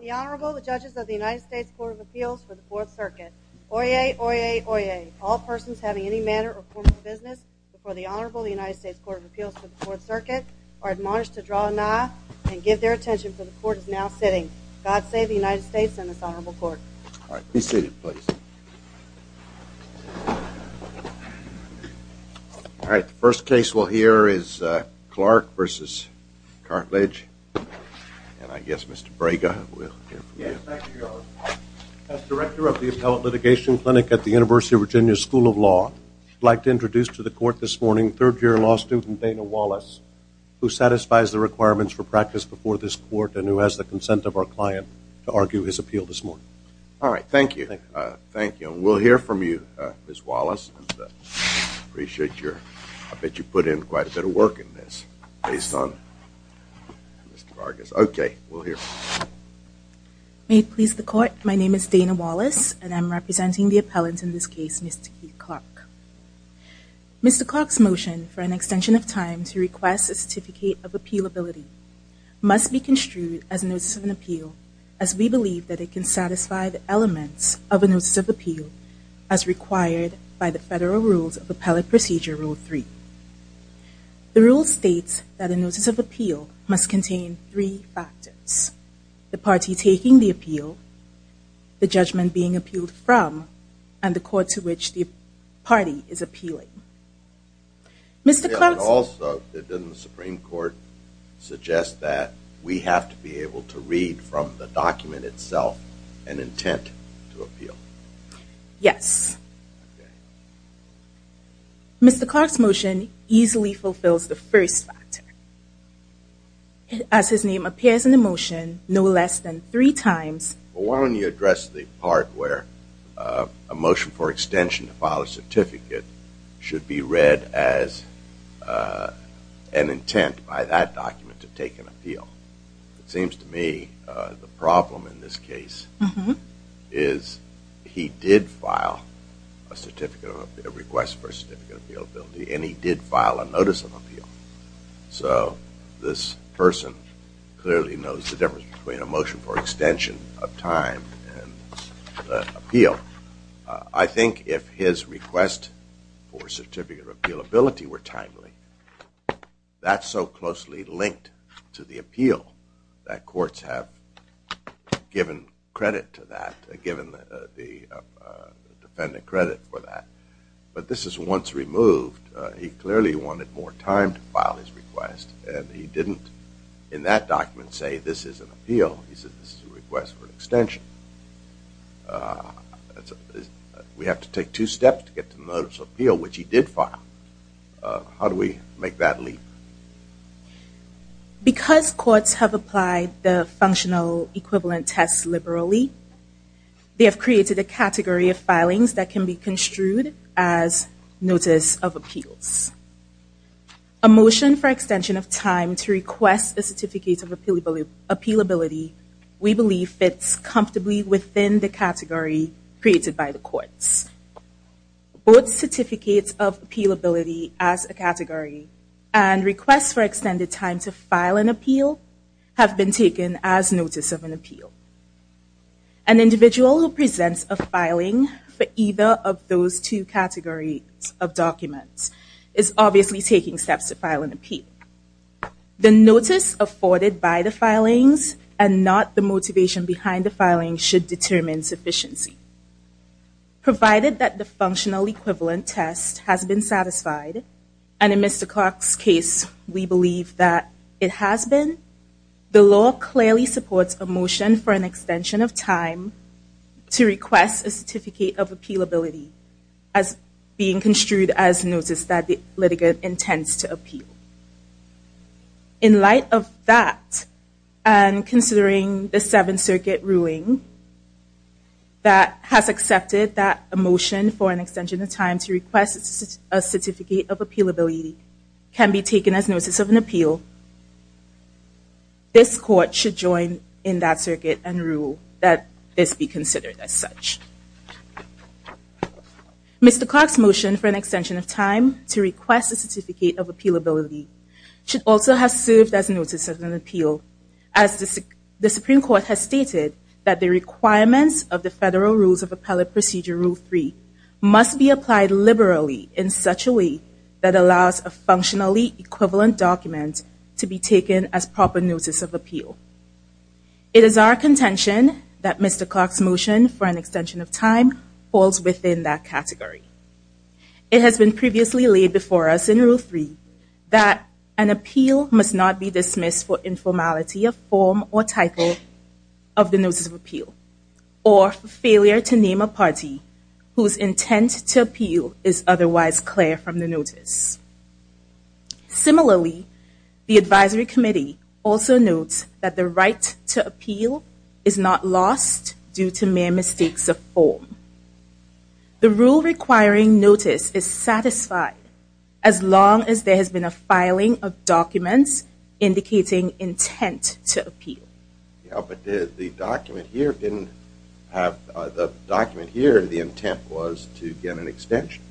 The Honorable, the Judges of the United States Court of Appeals for the Fourth Circuit. Oyez! Oyez! Oyez! All persons having any manner or form of business before the Honorable, the United States Court of Appeals for the Fourth Circuit are admonished to draw a nod and give their attention, for the Court is now sitting. God save the United States and this Honorable Court. All right, be seated, please. All right, the first case we'll hear is Clark v. Cartledge, and I guess Mr. Braga will. Yes, thank you, Your Honor. As Director of the Appellate Litigation Clinic at the University of Virginia School of Law, I'd like to introduce to the Court this morning third-year law student Dana Wallace, who satisfies the requirements for practice before this Court and who has the consent of our client to argue his appeal this morning. All right, thank you. Thank you. And we'll hear from you, Ms. Wallace. I appreciate your, I bet you put in quite a bit of work in this based on Mr. Braga's. Okay, we'll hear from you. May it please the Court, my name is Dana Wallace, and I'm representing the appellant in this case, Mr. Keith Clark. Mr. Clark's motion for an extension of time to request a certificate of appealability must be construed as a notice of an appeal as we believe that it can satisfy the elements of a notice of appeal as required by the Federal Rules of Appellate Procedure Rule 3. The rule states that a notice of appeal must contain three factors, the party taking the appeal, the judgment being appealed from, and the court to which the party is appealing. Also, didn't the Supreme Court suggest that we have to be able to read from the document itself an intent to appeal? Yes. Mr. Clark's motion easily fulfills the first factor. As his name appears in the motion no less than three times. Why don't you address the part where a motion for extension to file a certificate should be read as an intent by that document to take an appeal? It seems to me the problem in this case is he did file a request for a certificate of appealability and he did file a notice of appeal. So this person clearly knows the difference between a motion for extension of time and appeal. I think if his request for certificate of appealability were timely, that's so closely linked to the appeal that courts have given credit to that, given the defendant credit for that. But this is once removed. He clearly wanted more time to file his request and he didn't in that document say this is an appeal. He said this is a request for an extension. We have to take two steps to get to the notice of appeal, which he did file. How do we make that leap? Because courts have applied the functional equivalent test liberally, they have created a category of filings that can be construed as notice of appeals. A motion for extension of time to request a certificate of appealability we believe fits comfortably within the category created by the courts. Both certificates of appealability as a category and requests for extended time to file an appeal. An individual who presents a filing for either of those two categories of documents is obviously taking steps to file an appeal. The notice afforded by the filings and not the motivation behind the filing should determine sufficiency. Provided that the functional equivalent test has been satisfied, and in Mr. Clark's case we believe that it has been, the law clearly supports a motion for an extension of time to request a certificate of appealability as being construed as notice that the litigant intends to appeal. In light of that and considering the Seventh Circuit ruling that has accepted that a motion for an extension of time to request a certificate of appealability can be taken as notice of an appeal, this court should join in that circuit and rule that this be considered as such. Mr. Clark's motion for an extension of time to request a certificate of appealability should also have served as notice of an appeal as the Supreme Court has stated that the requirements of the Federal Rules of Appellate Procedure Rule 3 must be applied liberally in such a way that allows a functionally equivalent document to be taken as proper notice of appeal. It is our contention that Mr. Clark's motion for an extension of time falls within that category. It has been previously laid before us in Rule 3 that an appeal must not be dismissed for failure to name a party whose intent to appeal is otherwise clear from the notice. Similarly, the Advisory Committee also notes that the right to appeal is not lost due to mere mistakes of form. The rule requiring notice is satisfied as long as there has been a filing of documents indicating intent to appeal. The document here, the intent was to get an extension.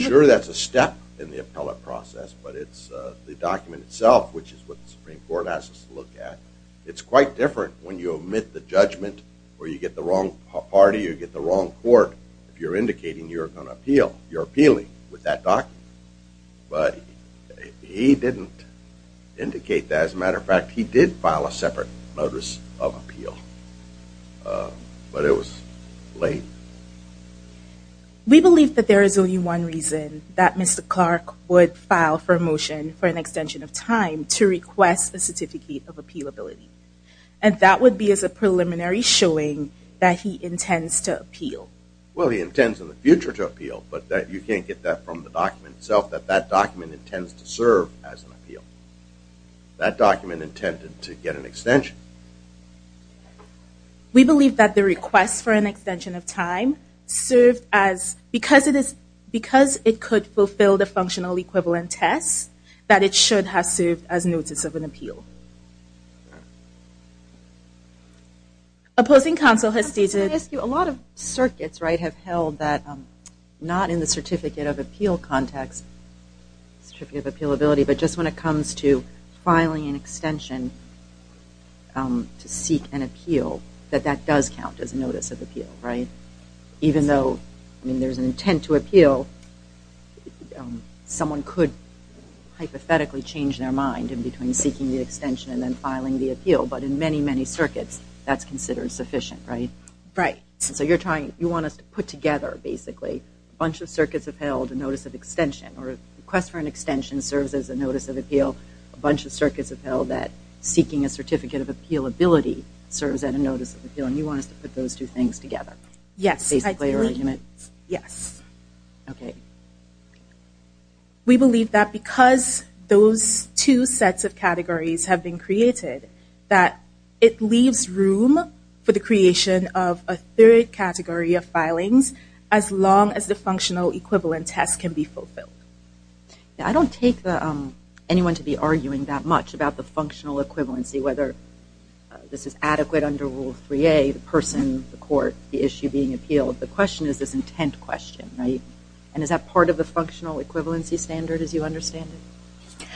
Sure, that's a step in the appellate process, but the document itself, which is what the Supreme Court asks us to look at, it's quite different when you omit the judgment or you get the wrong party or you get the wrong court. If you're indicating you're going to appeal, you're appealing with that document. But he didn't indicate that. As a matter of fact, he did file a separate notice of appeal, but it was late. We believe that there is only one reason that Mr. Clark would file for a motion for an extension of time to request a certificate of appealability, and that would be as a preliminary showing that he intends to appeal. Well, he intends in the future to appeal, but you can't get that from the document itself, that that document intends to serve as an appeal. That document intended to get an extension. We believe that the request for an extension of time served as, because it could fulfill the functional equivalent test, that it should have served as notice of an appeal. Opposing counsel has seated. A lot of circuits have held that not in the certificate of appeal context, certificate of appealability, but just when it comes to filing an extension to seek an appeal, that that does count as a notice of appeal. Even though there's an intent to appeal, someone could hypothetically change their mind in between seeking the extension and then filing the appeal, but in many, many circuits, that's considered sufficient, right? Right. So you're trying, you want us to put together, basically, a bunch of circuits have held a notice of extension, or a request for an extension serves as a notice of appeal, a bunch of circuits have held that seeking a certificate of appealability serves as a notice of appeal, and you want us to put those two things together? Yes. Basically, or in a unit? Yes. Okay. We believe that because those two sets of categories have been created, that it leaves room for the creation of a third category of filings as long as the functional equivalent test can be fulfilled. I don't take anyone to be arguing that much about the functional equivalency, whether this is adequate under Rule 3A, the person, the court, the issue being appealed. The question is this intent question, right? And is that part of the functional equivalency standard, as you understand it?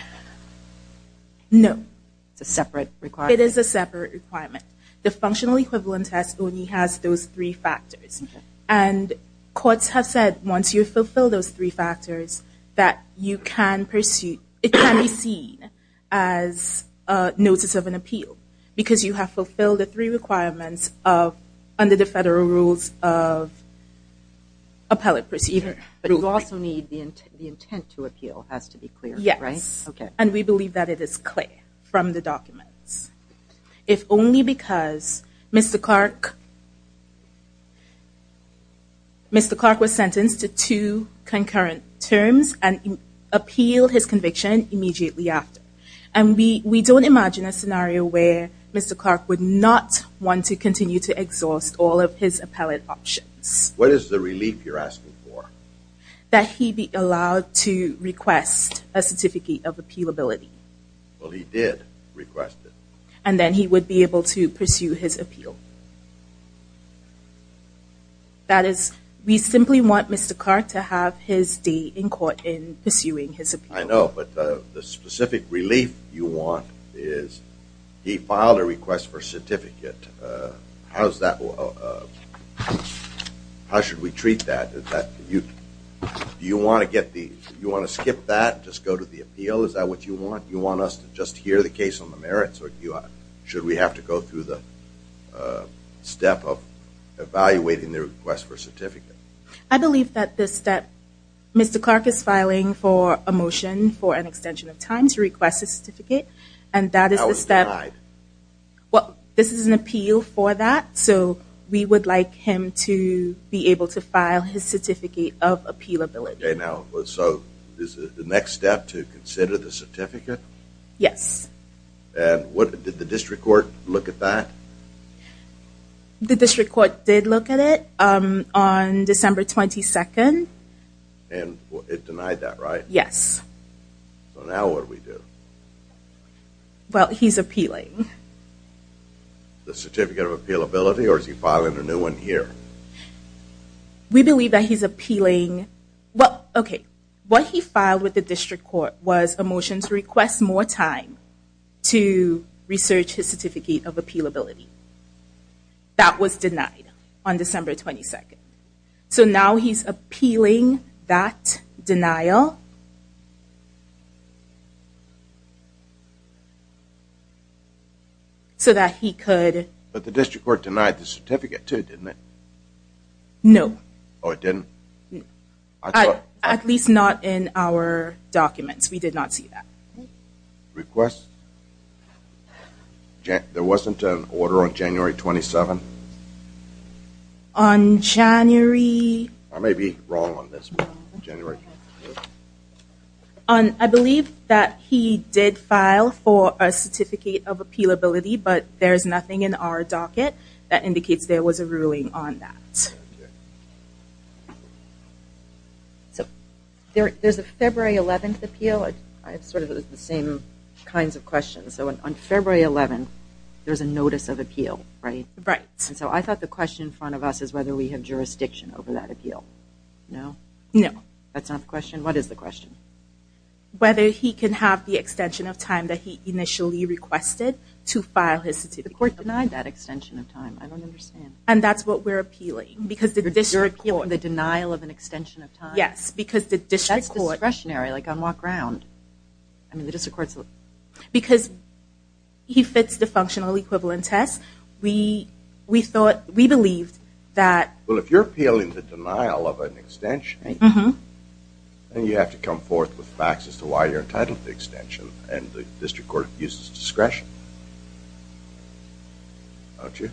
No. It's a separate requirement? It is a separate requirement. The functional equivalent test only has those three factors. Okay. And courts have said, once you fulfill those three factors, that you can pursue, it can be seen as a notice of an appeal, because you have fulfilled the three requirements under the federal rules of appellate procedure. But you also need the intent to appeal has to be clear, right? Yes. Okay. And we believe that it is clear from the documents. If only because Mr. Clark was sentenced to two concurrent terms and appealed his conviction immediately after. And we don't imagine a scenario where Mr. Clark would not want to continue to exhaust all of his appellate options. What is the relief you're asking for? That he be allowed to request a certificate of appealability. Well, he did request it. And then he would be able to pursue his appeal. That is, we simply want Mr. Clark to have his day in court in pursuing his appeal. I know. But the specific relief you want is he filed a request for a certificate. How should we treat that? Do you want to skip that and just go to the appeal? Is that what you want? Do you want us to just hear the case on the merits? Or should we have to go through the step of evaluating the request for a certificate? I believe that this step, Mr. Clark is filing for a motion for an extension of time to request a certificate. And that is the step. How is it denied? Well, this is an appeal for that. So we would like him to be able to file his certificate of appealability. Okay, now, so is the next step to consider the certificate? Yes. And did the district court look at that? The district court did look at it. On December 22nd. And it denied that, right? Yes. So now what do we do? Well, he's appealing. The certificate of appealability? Or is he filing a new one here? We believe that he's appealing. Well, okay, what he filed with the district court was a motion to request more time to research his certificate of appealability. That was denied on December 22nd. So now he's appealing that denial so that he could... But the district court denied the certificate too, didn't it? No. Oh, it didn't? At least not in our documents. We did not see that. Request? There wasn't an order on January 27th? On January... I may be wrong on this one, January 27th. I believe that he did file for a certificate of appealability, but there's nothing in our docket that indicates there was a ruling on that. So there's a February 11th appeal. I have sort of the same kinds of questions. So on February 11th, there's a notice of appeal, right? Right. And so I thought the question in front of us is whether we have jurisdiction over that appeal. No? No. That's not the question? What is the question? Whether he can have the extension of time that he initially requested to file his certificate. The court denied that extension of time. I don't understand. And that's what we're appealing. Because the district court... You're appealing the denial of an extension of time? Yes, because the district court... That's discretionary, like on walk-around. I mean, the district court's... Because he fits the functional equivalent test, we thought, we believed that... Well, if you're appealing the denial of an extension, then you have to come forth with facts as to why you're entitled to the extension. And the district court abuses discretion. Don't you?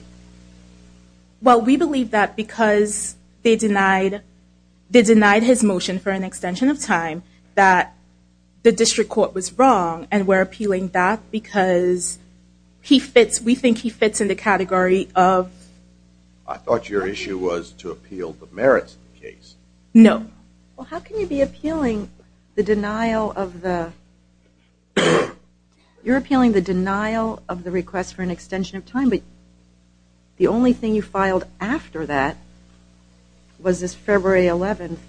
Well, we believe that because they denied his motion for an extension of time, that the district court was wrong. And we're appealing that because we think he fits in the category of... I thought your issue was to appeal the merits of the case. No. Well, how can you be appealing the denial of the... You're appealing the denial of the request for an extension of time, but the only thing you filed after that was this February 11th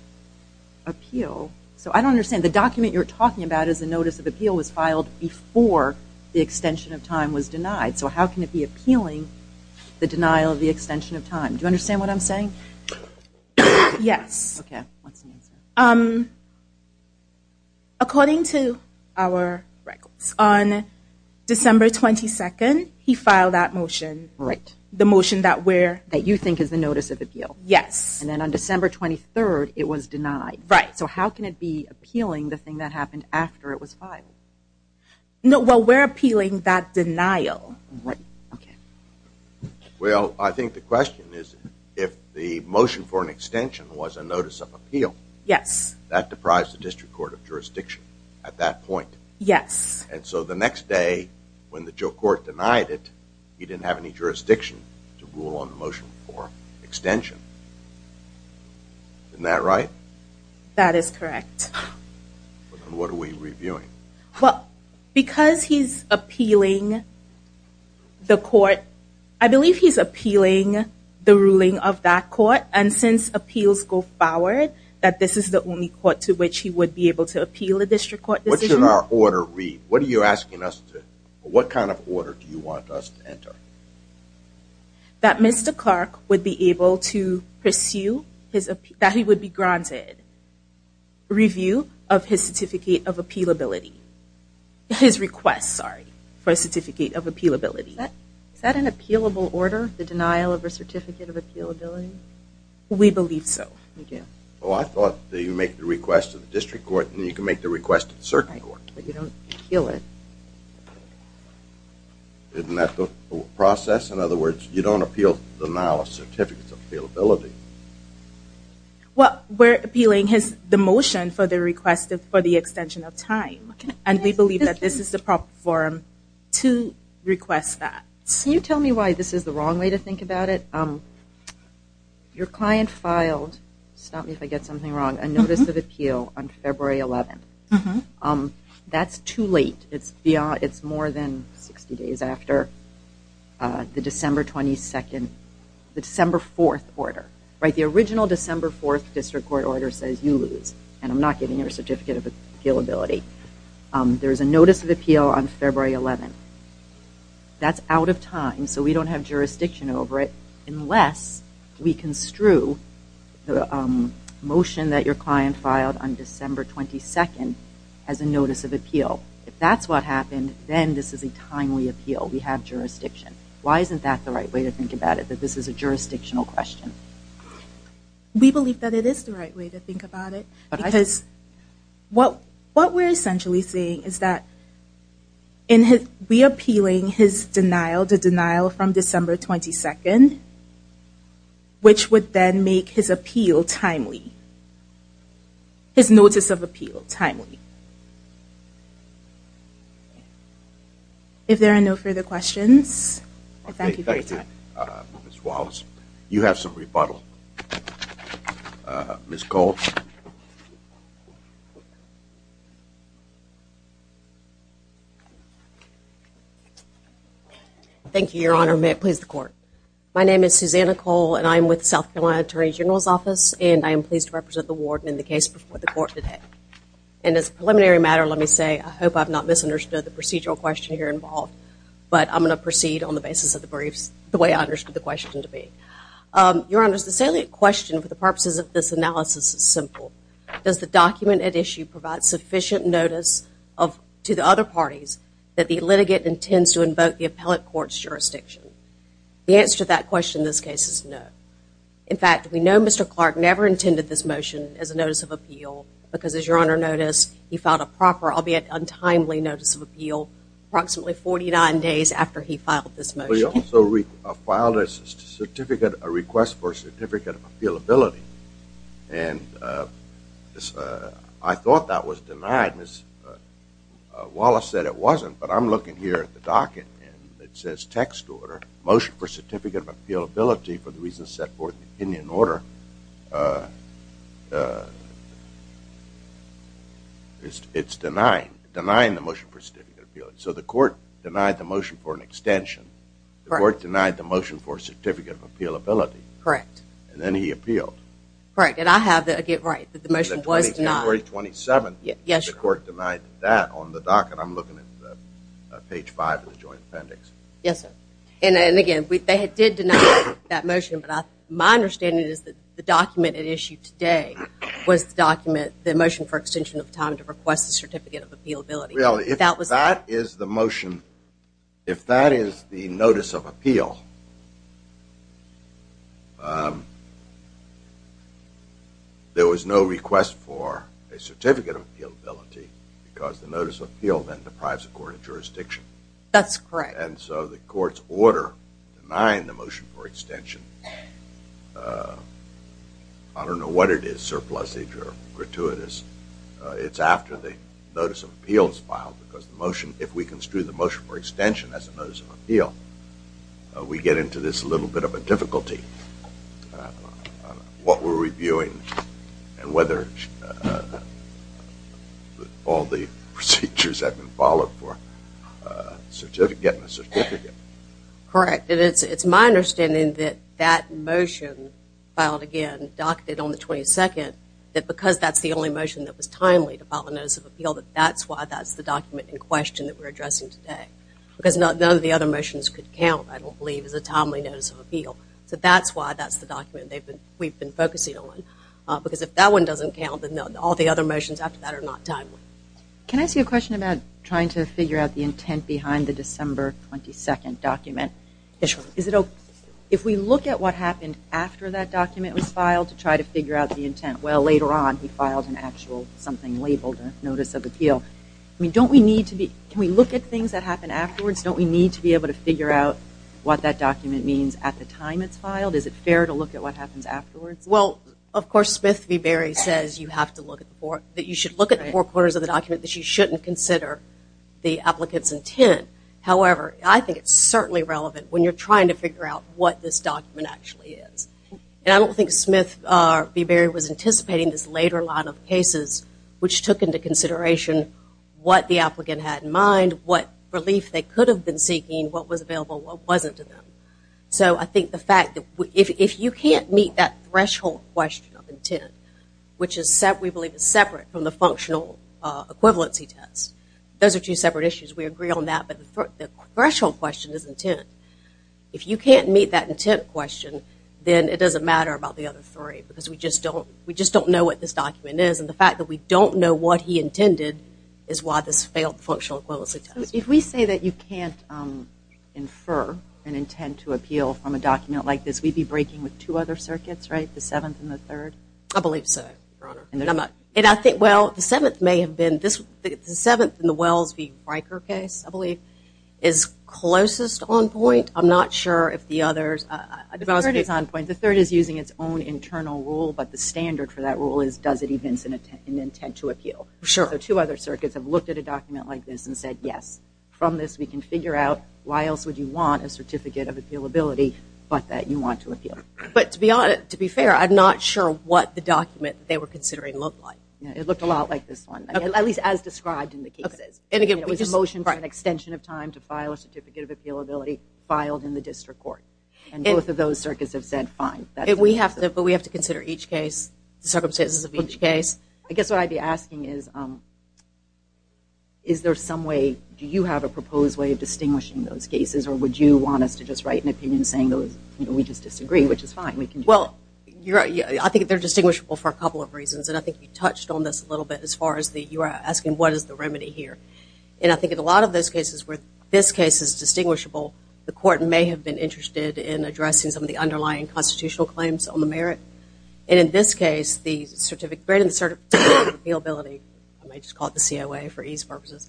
appeal. So I don't understand. The document you're talking about is the notice of appeal was filed before the extension of time was denied. So how can it be appealing the denial of the extension of time? Do you understand what I'm saying? Yes. Okay. What's the answer? According to our records, on December 22nd, he filed that motion. Right. The motion that we're... That you think is the notice of appeal. Yes. And then on December 23rd, it was denied. Right. So how can it be appealing the thing that happened after it was filed? No, well, we're appealing that denial. Right. Okay. Well, I think the question is if the motion for an extension was a notice of appeal... Yes. ...that deprives the district court of jurisdiction at that point. Yes. And so the next day, when the juror court denied it, he didn't have any jurisdiction to rule on the motion for extension. Isn't that right? That is correct. What are we reviewing? Well, because he's appealing the court... I believe he's appealing the ruling of that court. And since appeals go forward, that this is the only court to which he would be able to appeal a district court decision. What should our order read? What are you asking us to... What kind of order do you want us to enter? That Mr. Clark would be able to pursue his... that he would be granted review of his certificate of appealability. His request, sorry, for a certificate of appealability. Is that an appealable order, the denial of a certificate of appealability? We believe so. We do. Well, I thought that you make the request to the district court and you can make the request to the circuit court. Right, but you don't appeal it. Isn't that the process? In other words, you don't appeal the denial of a certificate of appealability. Well, we're appealing the motion for the request for the extension of time. And we believe that this is the proper form to request that. Can you tell me why this is the wrong way to think about it? Your client filed, stop me if I get something wrong, a notice of appeal on February 11th. That's too late. It's more than 60 days after the December 22nd, the December 4th order. The original December 4th district court order says you lose, and I'm not giving you a certificate of appealability. There's a notice of appeal on February 11th. That's out of time, so we don't have jurisdiction over it, unless we construe the motion that your client filed on December 22nd as a notice of appeal. If that's what happened, then this is a timely appeal. We have jurisdiction. Why isn't that the right way to think about it, that this is a jurisdictional question? We believe that it is the right way to think about it. Because what we're essentially saying is that we're appealing his denial to denial from December 22nd, which would then make his appeal timely, his notice of appeal timely. If there are no further questions, I thank you for your time. Okay, thank you, Ms. Wallace. You have some rebuttal. Ms. Cole. Thank you, Your Honor. May it please the Court. My name is Susanna Cole, and I'm with the South Carolina Attorney General's Office, and I am pleased to represent the warden in the case before the Court today. And as a preliminary matter, let me say I hope I've not misunderstood the procedural question here involved, but I'm going to proceed on the basis of the briefs the way I understood the question to be. Your Honor, the salient question for the purposes of this analysis is simple. Does the document at issue provide sufficient notice to the other parties that the litigant intends to invoke the appellate court's jurisdiction? The answer to that question in this case is no. In fact, we know Mr. Clark never intended this motion as a notice of appeal, because, as Your Honor noticed, he filed a proper, albeit untimely, notice of appeal approximately 49 days after he filed this motion. Well, he also filed a request for a certificate of appealability, and I thought that was denied. Ms. Wallace said it wasn't, but I'm looking here at the docket, and it says text order, motion for certificate of appealability for the reasons set forth in the opinion order. It's denying the motion for certificate of appealability. So the court denied the motion for an extension. The court denied the motion for certificate of appealability. Correct. And then he appealed. Correct. And I have, again, right, that the motion was denied. January 27th, the court denied that on the docket. I'm looking at page 5 of the joint appendix. Yes, sir. And, again, they did deny that motion, but my understanding is that the document at issue today was the document, the motion for extension of time to request the certificate of appealability. Well, if that is the motion, if that is the notice of appeal, there was no request for a certificate of appealability because the notice of appeal then deprives the court of jurisdiction. That's correct. And so the court's order denied the motion for extension. I don't know what it is, surplusage or gratuitous. It's after the notice of appeal is filed because the motion, if we construe the motion for extension as a notice of appeal, we get into this little bit of a difficulty. What we're reviewing and whether all the procedures have been followed for getting a certificate. Correct. And it's my understanding that that motion filed again, docketed on the 22nd, that because that's the only motion that was timely to file a notice of appeal, that that's why that's the document in question that we're addressing today. Because none of the other motions could count, I don't believe, as a timely notice of appeal. So that's why that's the document we've been focusing on. Because if that one doesn't count, then all the other motions after that are not timely. Can I ask you a question about trying to figure out the intent behind the December 22nd document? If we look at what happened after that document was filed to try to figure out the intent, well, later on he filed an actual something labeled a notice of appeal. Can we look at things that happen afterwards? Don't we need to be able to figure out what that document means at the time it's filed? Is it fair to look at what happens afterwards? Well, of course, Smith v. Berry says that you should look at the four corners of the document, that you shouldn't consider the applicant's intent. However, I think it's certainly relevant when you're trying to figure out what this document actually is. And I don't think Smith v. Berry was anticipating this later line of cases, which took into consideration what the applicant had in mind, what relief they could have been seeking, what was available, what wasn't to them. So I think the fact that if you can't meet that threshold question of intent, which we believe is separate from the functional equivalency test, those are two separate issues. We agree on that, but the threshold question is intent. If you can't meet that intent question, then it doesn't matter about the other three because we just don't know what this document is. And the fact that we don't know what he intended is why this failed the functional equivalency test. If we say that you can't infer an intent to appeal from a document like this, we'd be breaking with two other circuits, right, the Seventh and the Third? I believe so. Your Honor. Well, the Seventh may have been this. The Seventh in the Wells v. Riker case, I believe, is closest on point. I'm not sure if the others. The Third is on point. The Third is using its own internal rule, but the standard for that rule is does it evince an intent to appeal. So two other circuits have looked at a document like this and said, yes, from this we can figure out why else would you want a certificate of appealability but that you want to appeal. But to be fair, I'm not sure what the document they were considering looked like. It looked a lot like this one, at least as described in the cases. And again, it was a motion for an extension of time to file a certificate of appealability filed in the district court. And both of those circuits have said fine. But we have to consider each case, the circumstances of each case. I guess what I'd be asking is, is there some way, do you have a proposed way of distinguishing those cases or would you want us to just write an opinion saying we just disagree, which is fine? Well, I think they're distinguishable for a couple of reasons. And I think you touched on this a little bit as far as you were asking what is the remedy here. And I think in a lot of those cases where this case is distinguishable, the court may have been interested in addressing some of the underlying constitutional claims on the merit. And in this case, the certificate of appealability, I might just call it the COA for ease purposes,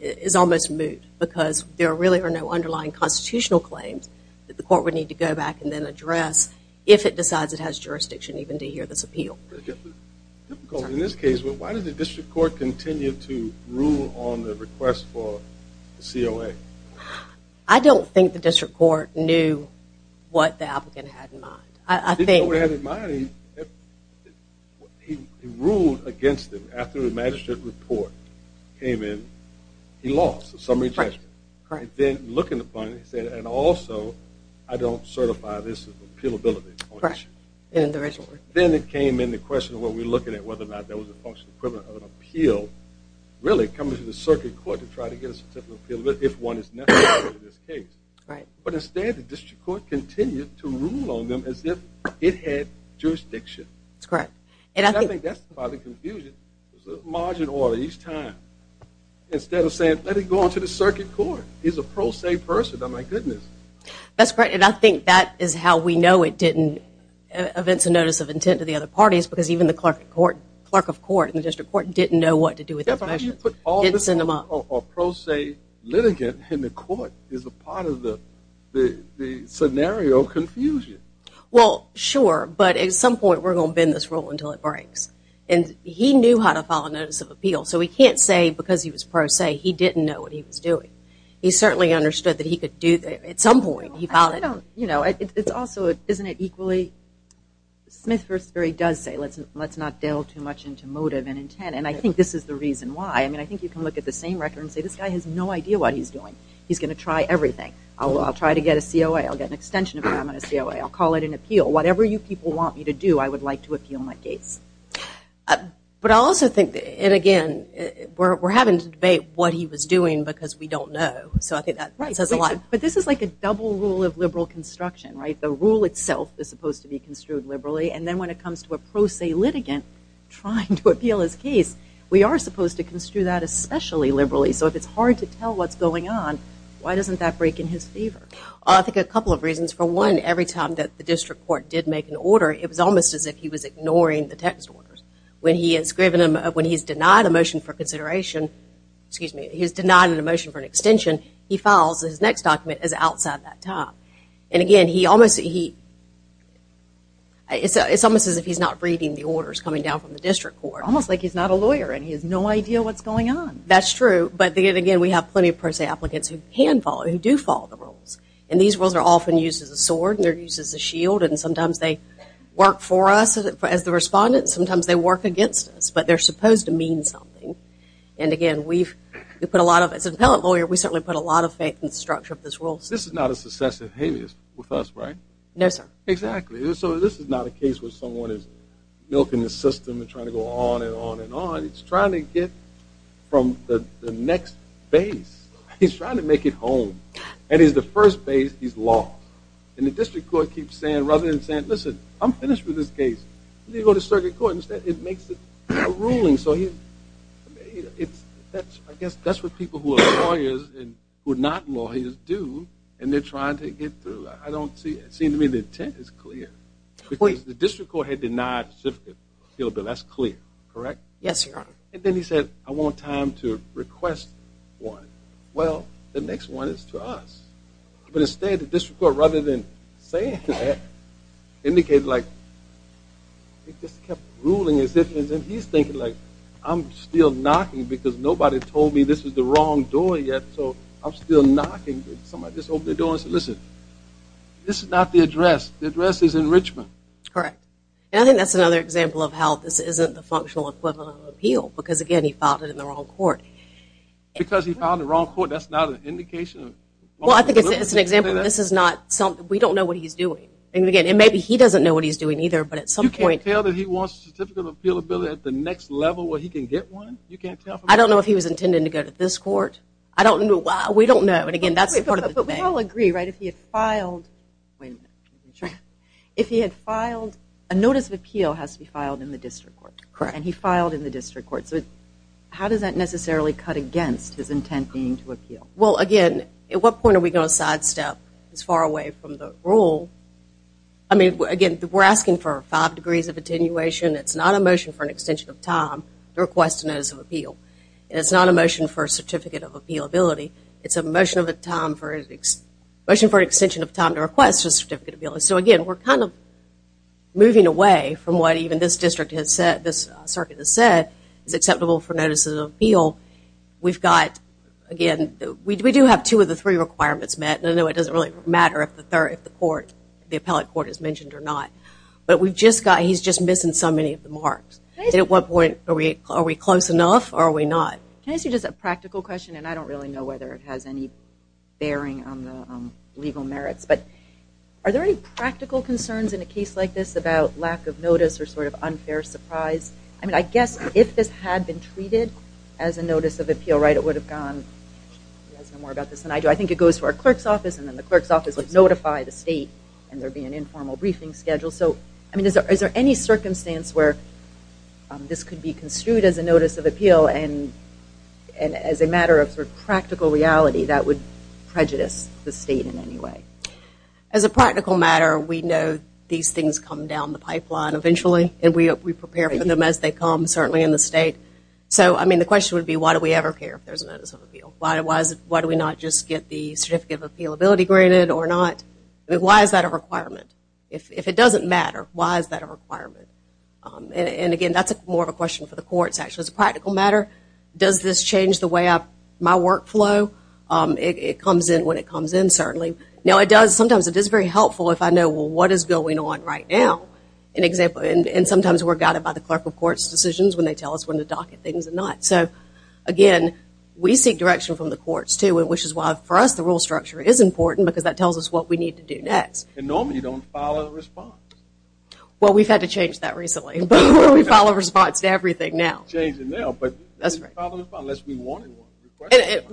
is almost moot because there really are no underlying constitutional claims that the court would need to go back and then address if it decides it has jurisdiction even to hear this appeal. In this case, why did the district court continue to rule on the request for the COA? I don't think the district court knew what the applicant had in mind. He ruled against it after the magistrate report came in. He lost the summary judgment. Then looking upon it, he said, and also, I don't certify this appealability. Then it came in the question of what we're looking at, whether or not that was a function equivalent of an appeal, really coming to the circuit court to try to get a certificate of appealability if one is necessary in this case. But instead, the district court continued to rule on them as if it had jurisdiction. That's correct. And I think that's part of the confusion. There's a margin order each time. Instead of saying, let it go on to the circuit court, he's a pro se person. Oh, my goodness. That's correct. And I think that is how we know it didn't evince a notice of intent to the other parties because even the clerk of court in the district court didn't know what to do with it. A pro se litigant in the court is a part of the scenario confusion. Well, sure. But at some point we're going to bend this rule until it breaks. And he knew how to file a notice of appeal. So we can't say because he was pro se he didn't know what he was doing. He certainly understood that he could do that at some point. You know, it's also, isn't it equally, Smith-Firstbury does say let's not delve too much into motive and intent. And I think this is the reason why. I mean, I think you can look at the same record and say this guy has no idea what he's doing. He's going to try everything. I'll try to get a COA. I'll get an extension of an amicus COA. I'll call it an appeal. Whatever you people want me to do, I would like to appeal my case. But I also think, and again, we're having to debate what he was doing because we don't know. So I think that says a lot. But this is like a double rule of liberal construction, right? The rule itself is supposed to be construed liberally. And then when it comes to a pro se litigant trying to appeal his case, we are supposed to construe that especially liberally. So if it's hard to tell what's going on, why doesn't that break in his favor? I think a couple of reasons. For one, every time that the district court did make an order, it was almost as if he was ignoring the text orders. When he's denied a motion for consideration, excuse me, he's denied a motion for an extension, he files his next document as outside that time. And again, it's almost as if he's not reading the orders coming down from the district court. Almost like he's not a lawyer and he has no idea what's going on. That's true. But again, we have plenty of pro se applicants who can follow, who do follow the rules. And these rules are often used as a sword and they're used as a shield. And sometimes they work for us as the respondents. Sometimes they work against us. But they're supposed to mean something. And again, as an appellate lawyer, we certainly put a lot of faith in the structure of this rule. This is not a success or failure with us, right? No, sir. Exactly. So this is not a case where someone is milking the system and trying to go on and on and on. It's trying to get from the next base. He's trying to make it home. And he's the first base, he's lost. And the district court keeps saying, rather than saying, listen, I'm finished with this case. You need to go to circuit court. Instead, it makes it a ruling. I guess that's what people who are lawyers and who are not lawyers do. And they're trying to get through. I don't see it. It seems to me the intent is clear. The district court had denied circuit. That's clear, correct? Yes, Your Honor. And then he said, I want time to request one. Well, the next one is to us. But instead, the district court, rather than saying that, indicated like it just kept ruling. And he's thinking, like, I'm still knocking because nobody told me this is the wrong door yet. So I'm still knocking. Somebody just opened the door and said, listen, this is not the address. The address is in Richmond. Correct. And I think that's another example of how this isn't the functional equivalent of an appeal. Because, again, he filed it in the wrong court. Because he filed it in the wrong court, that's not an indication. Well, I think it's an example. This is not something. We don't know what he's doing. And, again, maybe he doesn't know what he's doing either. But at some point. You can't tell that he wants a certificate of appealability at the next level where he can get one? You can't tell? I don't know if he was intending to go to this court. I don't know. We don't know. And, again, that's part of the thing. But we all agree, right, if he had filed. Wait a minute. If he had filed, a notice of appeal has to be filed in the district court. Correct. And he filed in the district court. So how does that necessarily cut against his intent being to appeal? Well, again, at what point are we going to sidestep as far away from the rule? I mean, again, we're asking for five degrees of attenuation. It's not a motion for an extension of time to request a notice of appeal. And it's not a motion for a certificate of appealability. It's a motion for an extension of time to request a certificate of appeal. So, again, we're kind of moving away from what even this district has said, this circuit has said, is acceptable for notices of appeal. We've got, again, we do have two of the three requirements met. And I know it doesn't really matter if the court, the appellate court is mentioned or not. But we've just got, he's just missing so many of the marks. And at what point are we close enough or are we not? Can I ask you just a practical question? And I don't really know whether it has any bearing on the legal merits. But are there any practical concerns in a case like this about lack of notice or sort of unfair surprise? I mean, I guess if this had been treated as a notice of appeal, right, it would have gone. You guys know more about this than I do. I think it goes to our clerk's office and then the clerk's office would notify the state and there would be an informal briefing schedule. So, I mean, is there any circumstance where this could be construed as a notice of appeal and as a matter of sort of practical reality that would prejudice the state in any way? As a practical matter, we know these things come down the pipeline eventually. And we prepare for them as they come, certainly in the state. So, I mean, the question would be why do we ever care if there's a notice of appeal? Why do we not just get the certificate of appealability granted or not? I mean, why is that a requirement? If it doesn't matter, why is that a requirement? And, again, that's more of a question for the courts, actually. As a practical matter, does this change the way my work flow? It comes in when it comes in, certainly. Now, it does. Sometimes it is very helpful if I know, well, what is going on right now? And sometimes we're guided by the clerk of court's decisions when they tell us when to docket things and not. So, again, we seek direction from the courts, too, which is why for us the rule structure is important because that tells us what we need to do next. And normally you don't follow a response. Well, we've had to change that recently. We follow a response to everything now. Changing now, but we follow a response unless we wanted one.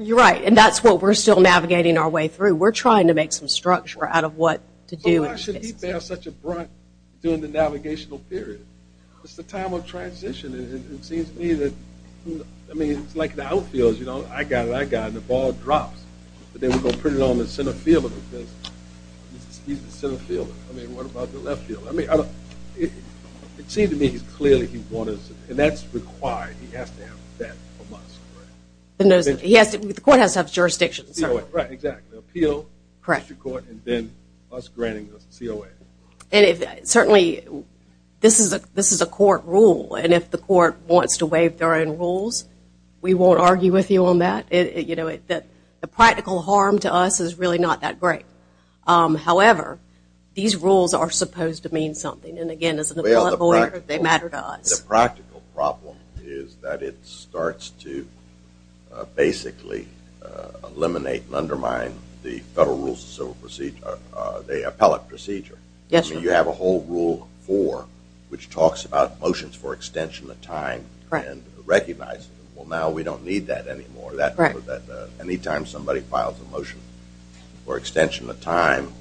You're right, and that's what we're still navigating our way through. We're trying to make some structure out of what to do. Why should we bear such a brunt during the navigational period? It's the time of transition. It seems to me that, I mean, it's like the outfields, you know, I got it, I got it, and the ball drops. But then we're going to put it on the center field because he's the center fielder. I mean, what about the left fielder? It seems to me he's clearly wanted, and that's required. He has to have that from us. The court has to have jurisdictions. Right, exactly. Appeal, district court, and then us granting the COA. Certainly, this is a court rule, and if the court wants to waive their own rules, we won't argue with you on that. You know, the practical harm to us is really not that great. However, these rules are supposed to mean something, and again, as an appellate lawyer, they matter to us. The practical problem is that it starts to basically eliminate and undermine the Federal Rules of Civil Procedure, the appellate procedure. Yes, sir. I mean, you have a whole Rule 4, which talks about motions for extension of time and recognizing them. Well, now we don't need that anymore. Anytime somebody files a motion for extension of time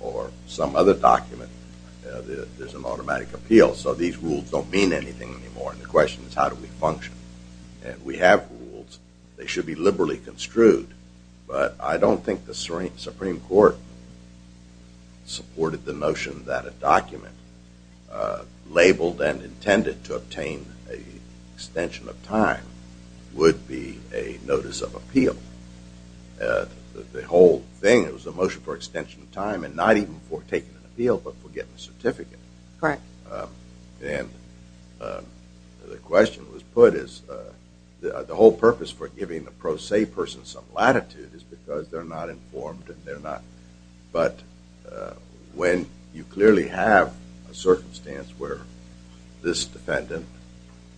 or some other document, there's an automatic appeal. So these rules don't mean anything anymore, and the question is how do we function? And we have rules. They should be liberally construed, but I don't think the Supreme Court supported the notion that a document labeled and intended to obtain an extension of time would be a notice of appeal. The whole thing was a motion for extension of time and not even for taking an appeal, but for getting a certificate. Correct. And the question was put is the whole purpose for giving the pro se person some latitude is because they're not informed and they're not – but when you clearly have a circumstance where this defendant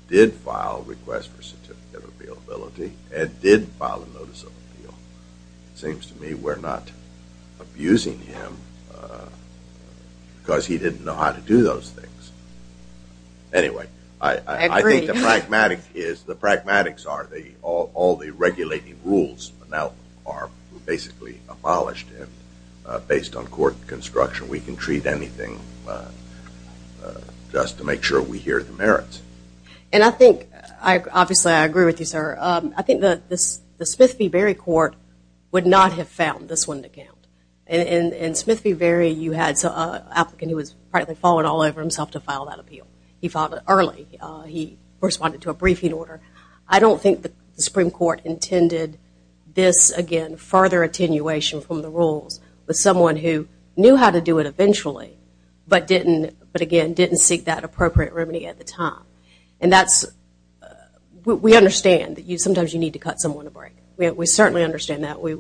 did file a request for a certificate of appealability and did file a notice of appeal, it seems to me we're not abusing him because he didn't know how to do those things. Anyway, I think the pragmatic is – the pragmatics are all the regulating rules now are basically abolished. Based on court construction, we can treat anything just to make sure we hear the merits. And I think – obviously, I agree with you, sir. I think the Smith v. Berry court would not have found this one to count. In Smith v. Berry, you had an applicant who had practically fallen all over himself to file that appeal. He filed it early. He responded to a briefing order. I don't think the Supreme Court intended this, again, further attenuation from the rules with someone who knew how to do it eventually but, again, didn't seek that appropriate remedy at the time. And that's – we understand that sometimes you need to cut someone a break. We certainly understand that. We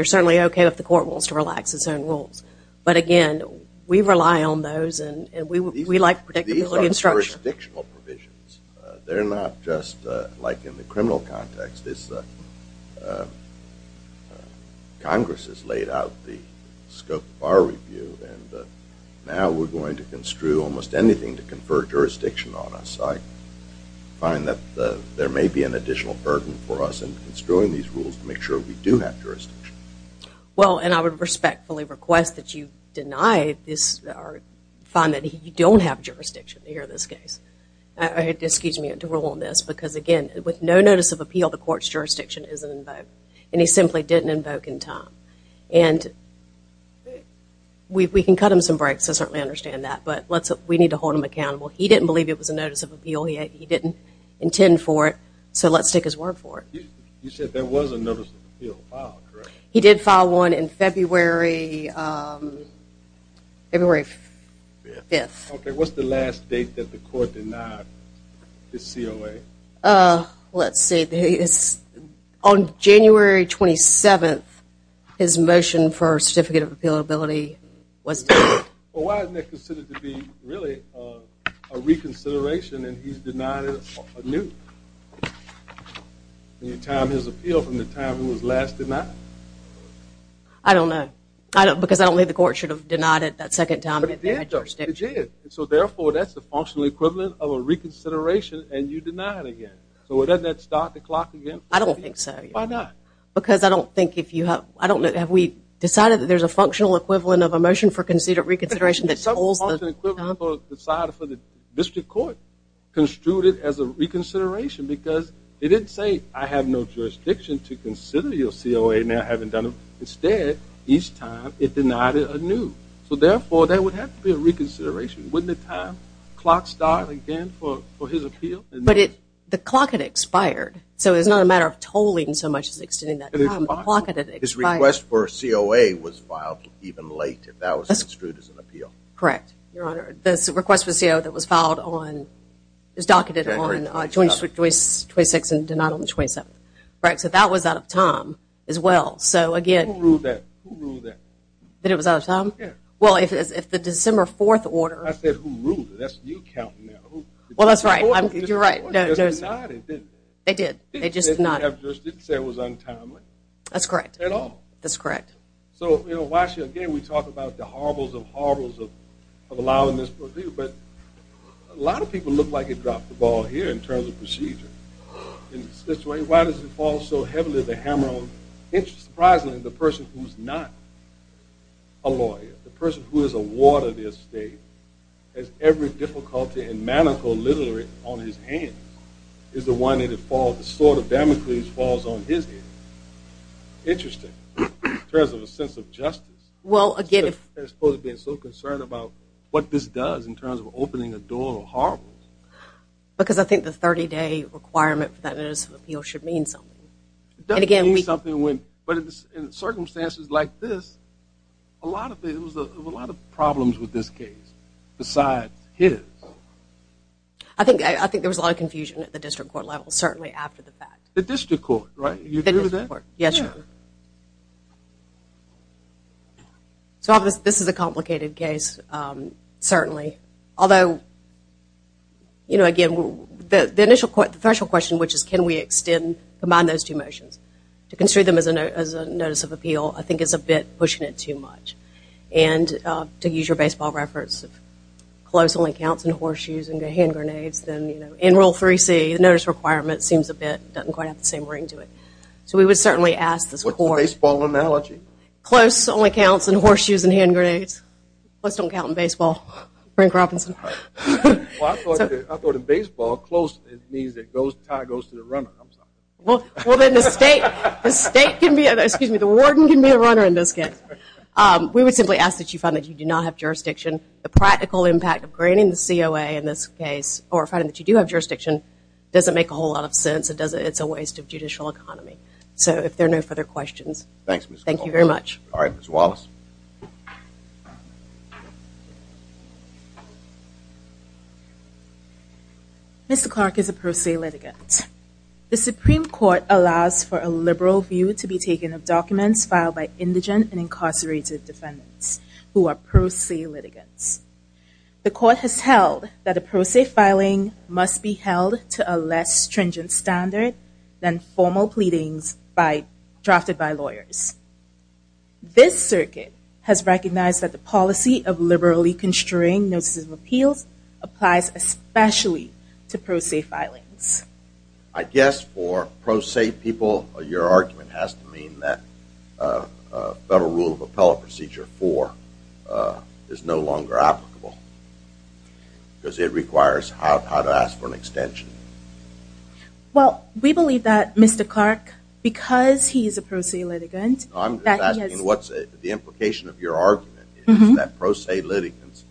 are certainly okay if the court wants to relax its own rules. But, again, we rely on those and we like predictability and structure. These are jurisdictional provisions. They're not just like in the criminal context. Congress has laid out the scope of our review. And now we're going to construe almost anything to confer jurisdiction on us. I find that there may be an additional burden for us in construing these rules to make sure we do have jurisdiction. Well, and I would respectfully request that you deny this or find that you don't have jurisdiction to hear this case. Excuse me, to rule on this because, again, with no notice of appeal, the court's jurisdiction isn't invoked. And he simply didn't invoke in time. And we can cut him some breaks. I certainly understand that. But we need to hold him accountable. He didn't believe it was a notice of appeal. He didn't intend for it. So let's take his word for it. You said there was a notice of appeal filed, correct? He did file one in February 5th. Okay. What's the last date that the court denied his COA? Let's see. On January 27th, his motion for a certificate of appealability was denied. Well, why isn't it considered to be really a reconsideration and he's denied it anew? Any time his appeal from the time he was last denied? I don't know because I don't believe the court should have denied it that second time. But it did. So, therefore, that's the functional equivalent of a reconsideration and you deny it again. So doesn't that start the clock again? I don't think so. Why not? Because I don't think if you have we decided that there's a functional equivalent of a motion for reconsideration that holds the time for the side of the district court construed it as a reconsideration because it didn't say I have no jurisdiction to consider your COA now having done it. Instead, each time it denied it anew. So, therefore, that would have to be a reconsideration. Wouldn't the time clock start again for his appeal? But the clock had expired. So it's not a matter of tolling so much as extending that time. The clock had expired. His request for a COA was filed even later. That was construed as an appeal. Correct, Your Honor. The request for a COA that was filed on was docketed on January 26th and denied on the 27th. So that was out of time as well. So, again. Who ruled that? That it was out of time? Yeah. Well, if the December 4th order. I said who ruled it. That's you counting now. Well, that's right. You're right. They did. They did. They just did not have jurisdiction. It was untimely. That's correct. At all. That's correct. So, you know, again, we talk about the horribles of horribles of allowing this to be, but a lot of people look like it dropped the ball here in terms of procedure. Why does it fall so heavily to hammer on? Surprisingly, the person who's not a lawyer, the person who is a ward of the estate, has every difficulty and manacle literally on his hands is the one that it falls, the sword of Damocles falls on his head. Interesting in terms of a sense of justice. Well, again, if. I'm so concerned about what this does in terms of opening a door of horribles. Because I think the 30-day requirement for that notice of appeal should mean something. It doesn't mean something when, but in circumstances like this, a lot of problems with this case besides his. I think there was a lot of confusion at the district court level, certainly after the fact. The district court, right? Yes, sir. So this is a complicated case, certainly. Although, you know, again, the initial question, which is can we extend, combine those two motions. To consider them as a notice of appeal, I think it's a bit pushing it too much. And to use your baseball reference, if close only counts in horseshoes and hand grenades, then, you know, in Rule 3C, the notice requirement seems a bit, doesn't quite have the same ring to it. So we would certainly ask this court. What's the baseball analogy? Close only counts in horseshoes and hand grenades. Close don't count in baseball, Frank Robinson. Well, I thought in baseball, close means it goes, tie goes to the runner. Well, then the state can be, excuse me, the warden can be a runner in this case. We would simply ask that you find that you do not have jurisdiction. The practical impact of granting the COA in this case, or finding that you do have jurisdiction, doesn't make a whole lot of sense. It's a waste of judicial economy. So if there are no further questions. Thank you very much. All right, Ms. Wallace. Mr. Clark is a pro se litigant. The Supreme Court allows for a liberal view to be taken of documents filed by indigent and incarcerated defendants who are pro se litigants. The court has held that a pro se filing must be held to a less stringent standard than formal pleadings drafted by lawyers. This circuit has recognized that the policy of liberally constrain notices of appeals applies especially to pro se filings. I guess for pro se people, your argument has to mean that Federal Rule of Appellate Procedure 4 is no longer applicable. Because it requires how to ask for an extension. Well, we believe that Mr. Clark, because he is a pro se litigant, I'm just asking what's the implication of your argument is that pro se litigants,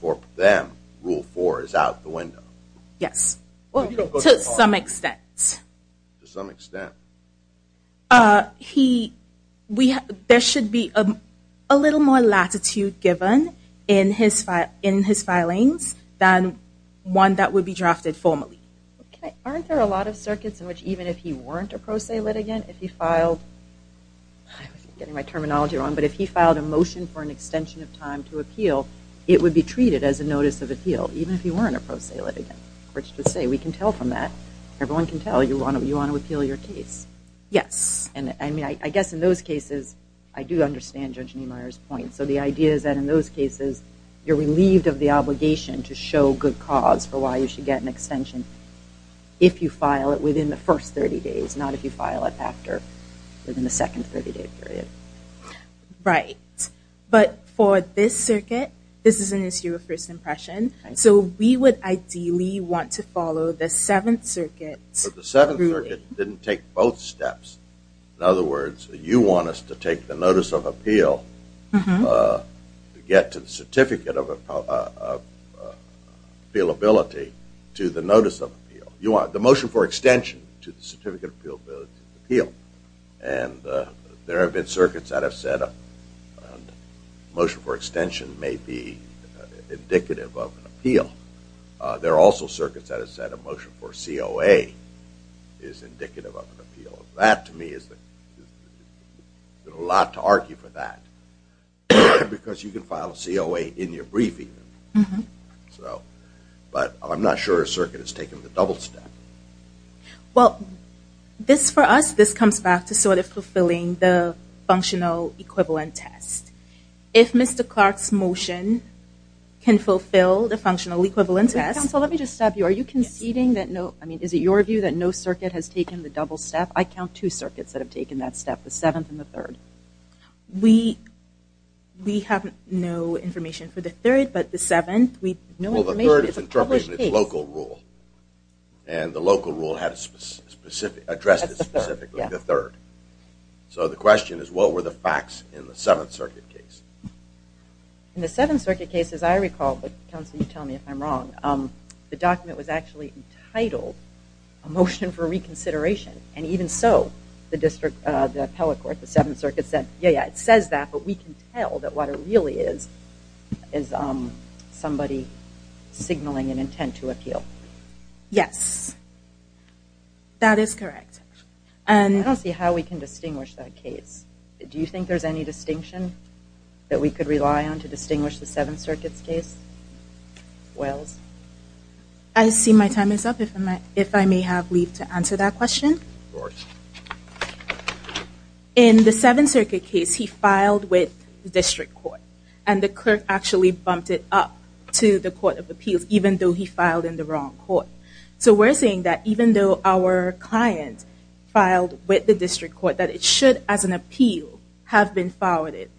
for them, Rule 4 is out the window. Yes. To some extent. To some extent. There should be a little more latitude given in his filings than one that would be drafted formally. Aren't there a lot of circuits in which even if he weren't a pro se litigant, if he filed, I'm getting my terminology wrong, but if he filed a motion for an extension of time to appeal, it would be treated as a notice of appeal, even if he weren't a pro se litigant. We can tell from that. Everyone can tell you want to appeal your case. Yes. I guess in those cases, I do understand Judge Niemeyer's point. So the idea is that in those cases, you're relieved of the obligation to show good cause for why you should get an extension if you file it within the first 30 days, not if you file it after, within the second 30-day period. Right. But for this circuit, this is an issue of first impression. So we would ideally want to follow the Seventh Circuit. But the Seventh Circuit didn't take both steps. In other words, you want us to take the notice of appeal to get to the certificate of appealability to the notice of appeal. You want the motion for extension to the certificate of appealability to appeal. And there have been circuits that have said a motion for extension may be indicative of an appeal. There are also circuits that have said a motion for COA is indicative of an appeal. That, to me, is a lot to argue for that. Because you can file a COA in your briefing. But I'm not sure a circuit has taken the double step. Well, for us, this comes back to sort of fulfilling the functional equivalent test. If Mr. Clark's motion can fulfill the functional equivalent test... Counsel, let me just stop you. Are you conceding that no... I mean, is it your view that no circuit has taken the double step? I count two circuits that have taken that step, the Seventh and the Third. We have no information for the Third, but the Seventh... Well, the Third is interpreted in its local rule. And the local rule addressed it specifically, the Third. So the question is, what were the facts in the Seventh Circuit case? In the Seventh Circuit case, as I recall, but, Counsel, you tell me if I'm wrong, the document was actually entitled a motion for reconsideration. And even so, the district, the appellate court, the Seventh Circuit said, yeah, yeah, it says that, but we can tell that what it really is is somebody signaling an intent to appeal. Yes. That is correct. I don't see how we can distinguish that case. Do you think there's any distinction that we could rely on to distinguish the Seventh Circuit's case? Wells? I see my time is up, if I may have leave to answer that question. Of course. In the Seventh Circuit case, he filed with the district court, and the clerk actually bumped it up to the court of appeals, even though he filed in the wrong court. So we're saying that even though our client filed with the district court, that it should, as an appeal, have been forwarded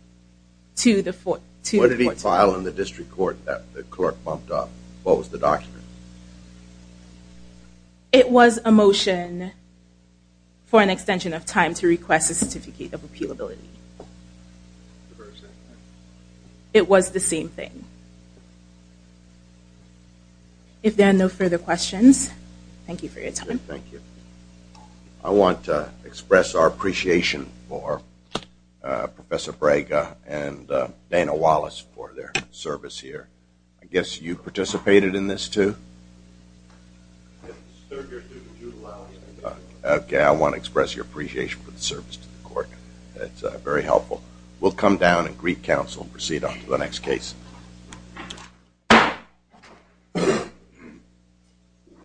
to the court. What did he file in the district court that the clerk bumped up? What was the document? It was a motion for an extension of time to request a certificate of appealability. It was the same thing. Thank you. If there are no further questions, thank you for your time. Thank you. I want to express our appreciation for Professor Braga and Dana Wallace for their service here. I guess you participated in this, too? Okay, I want to express your appreciation for the service to the court. It's very helpful. We'll come down and greet counsel and proceed on to the next case.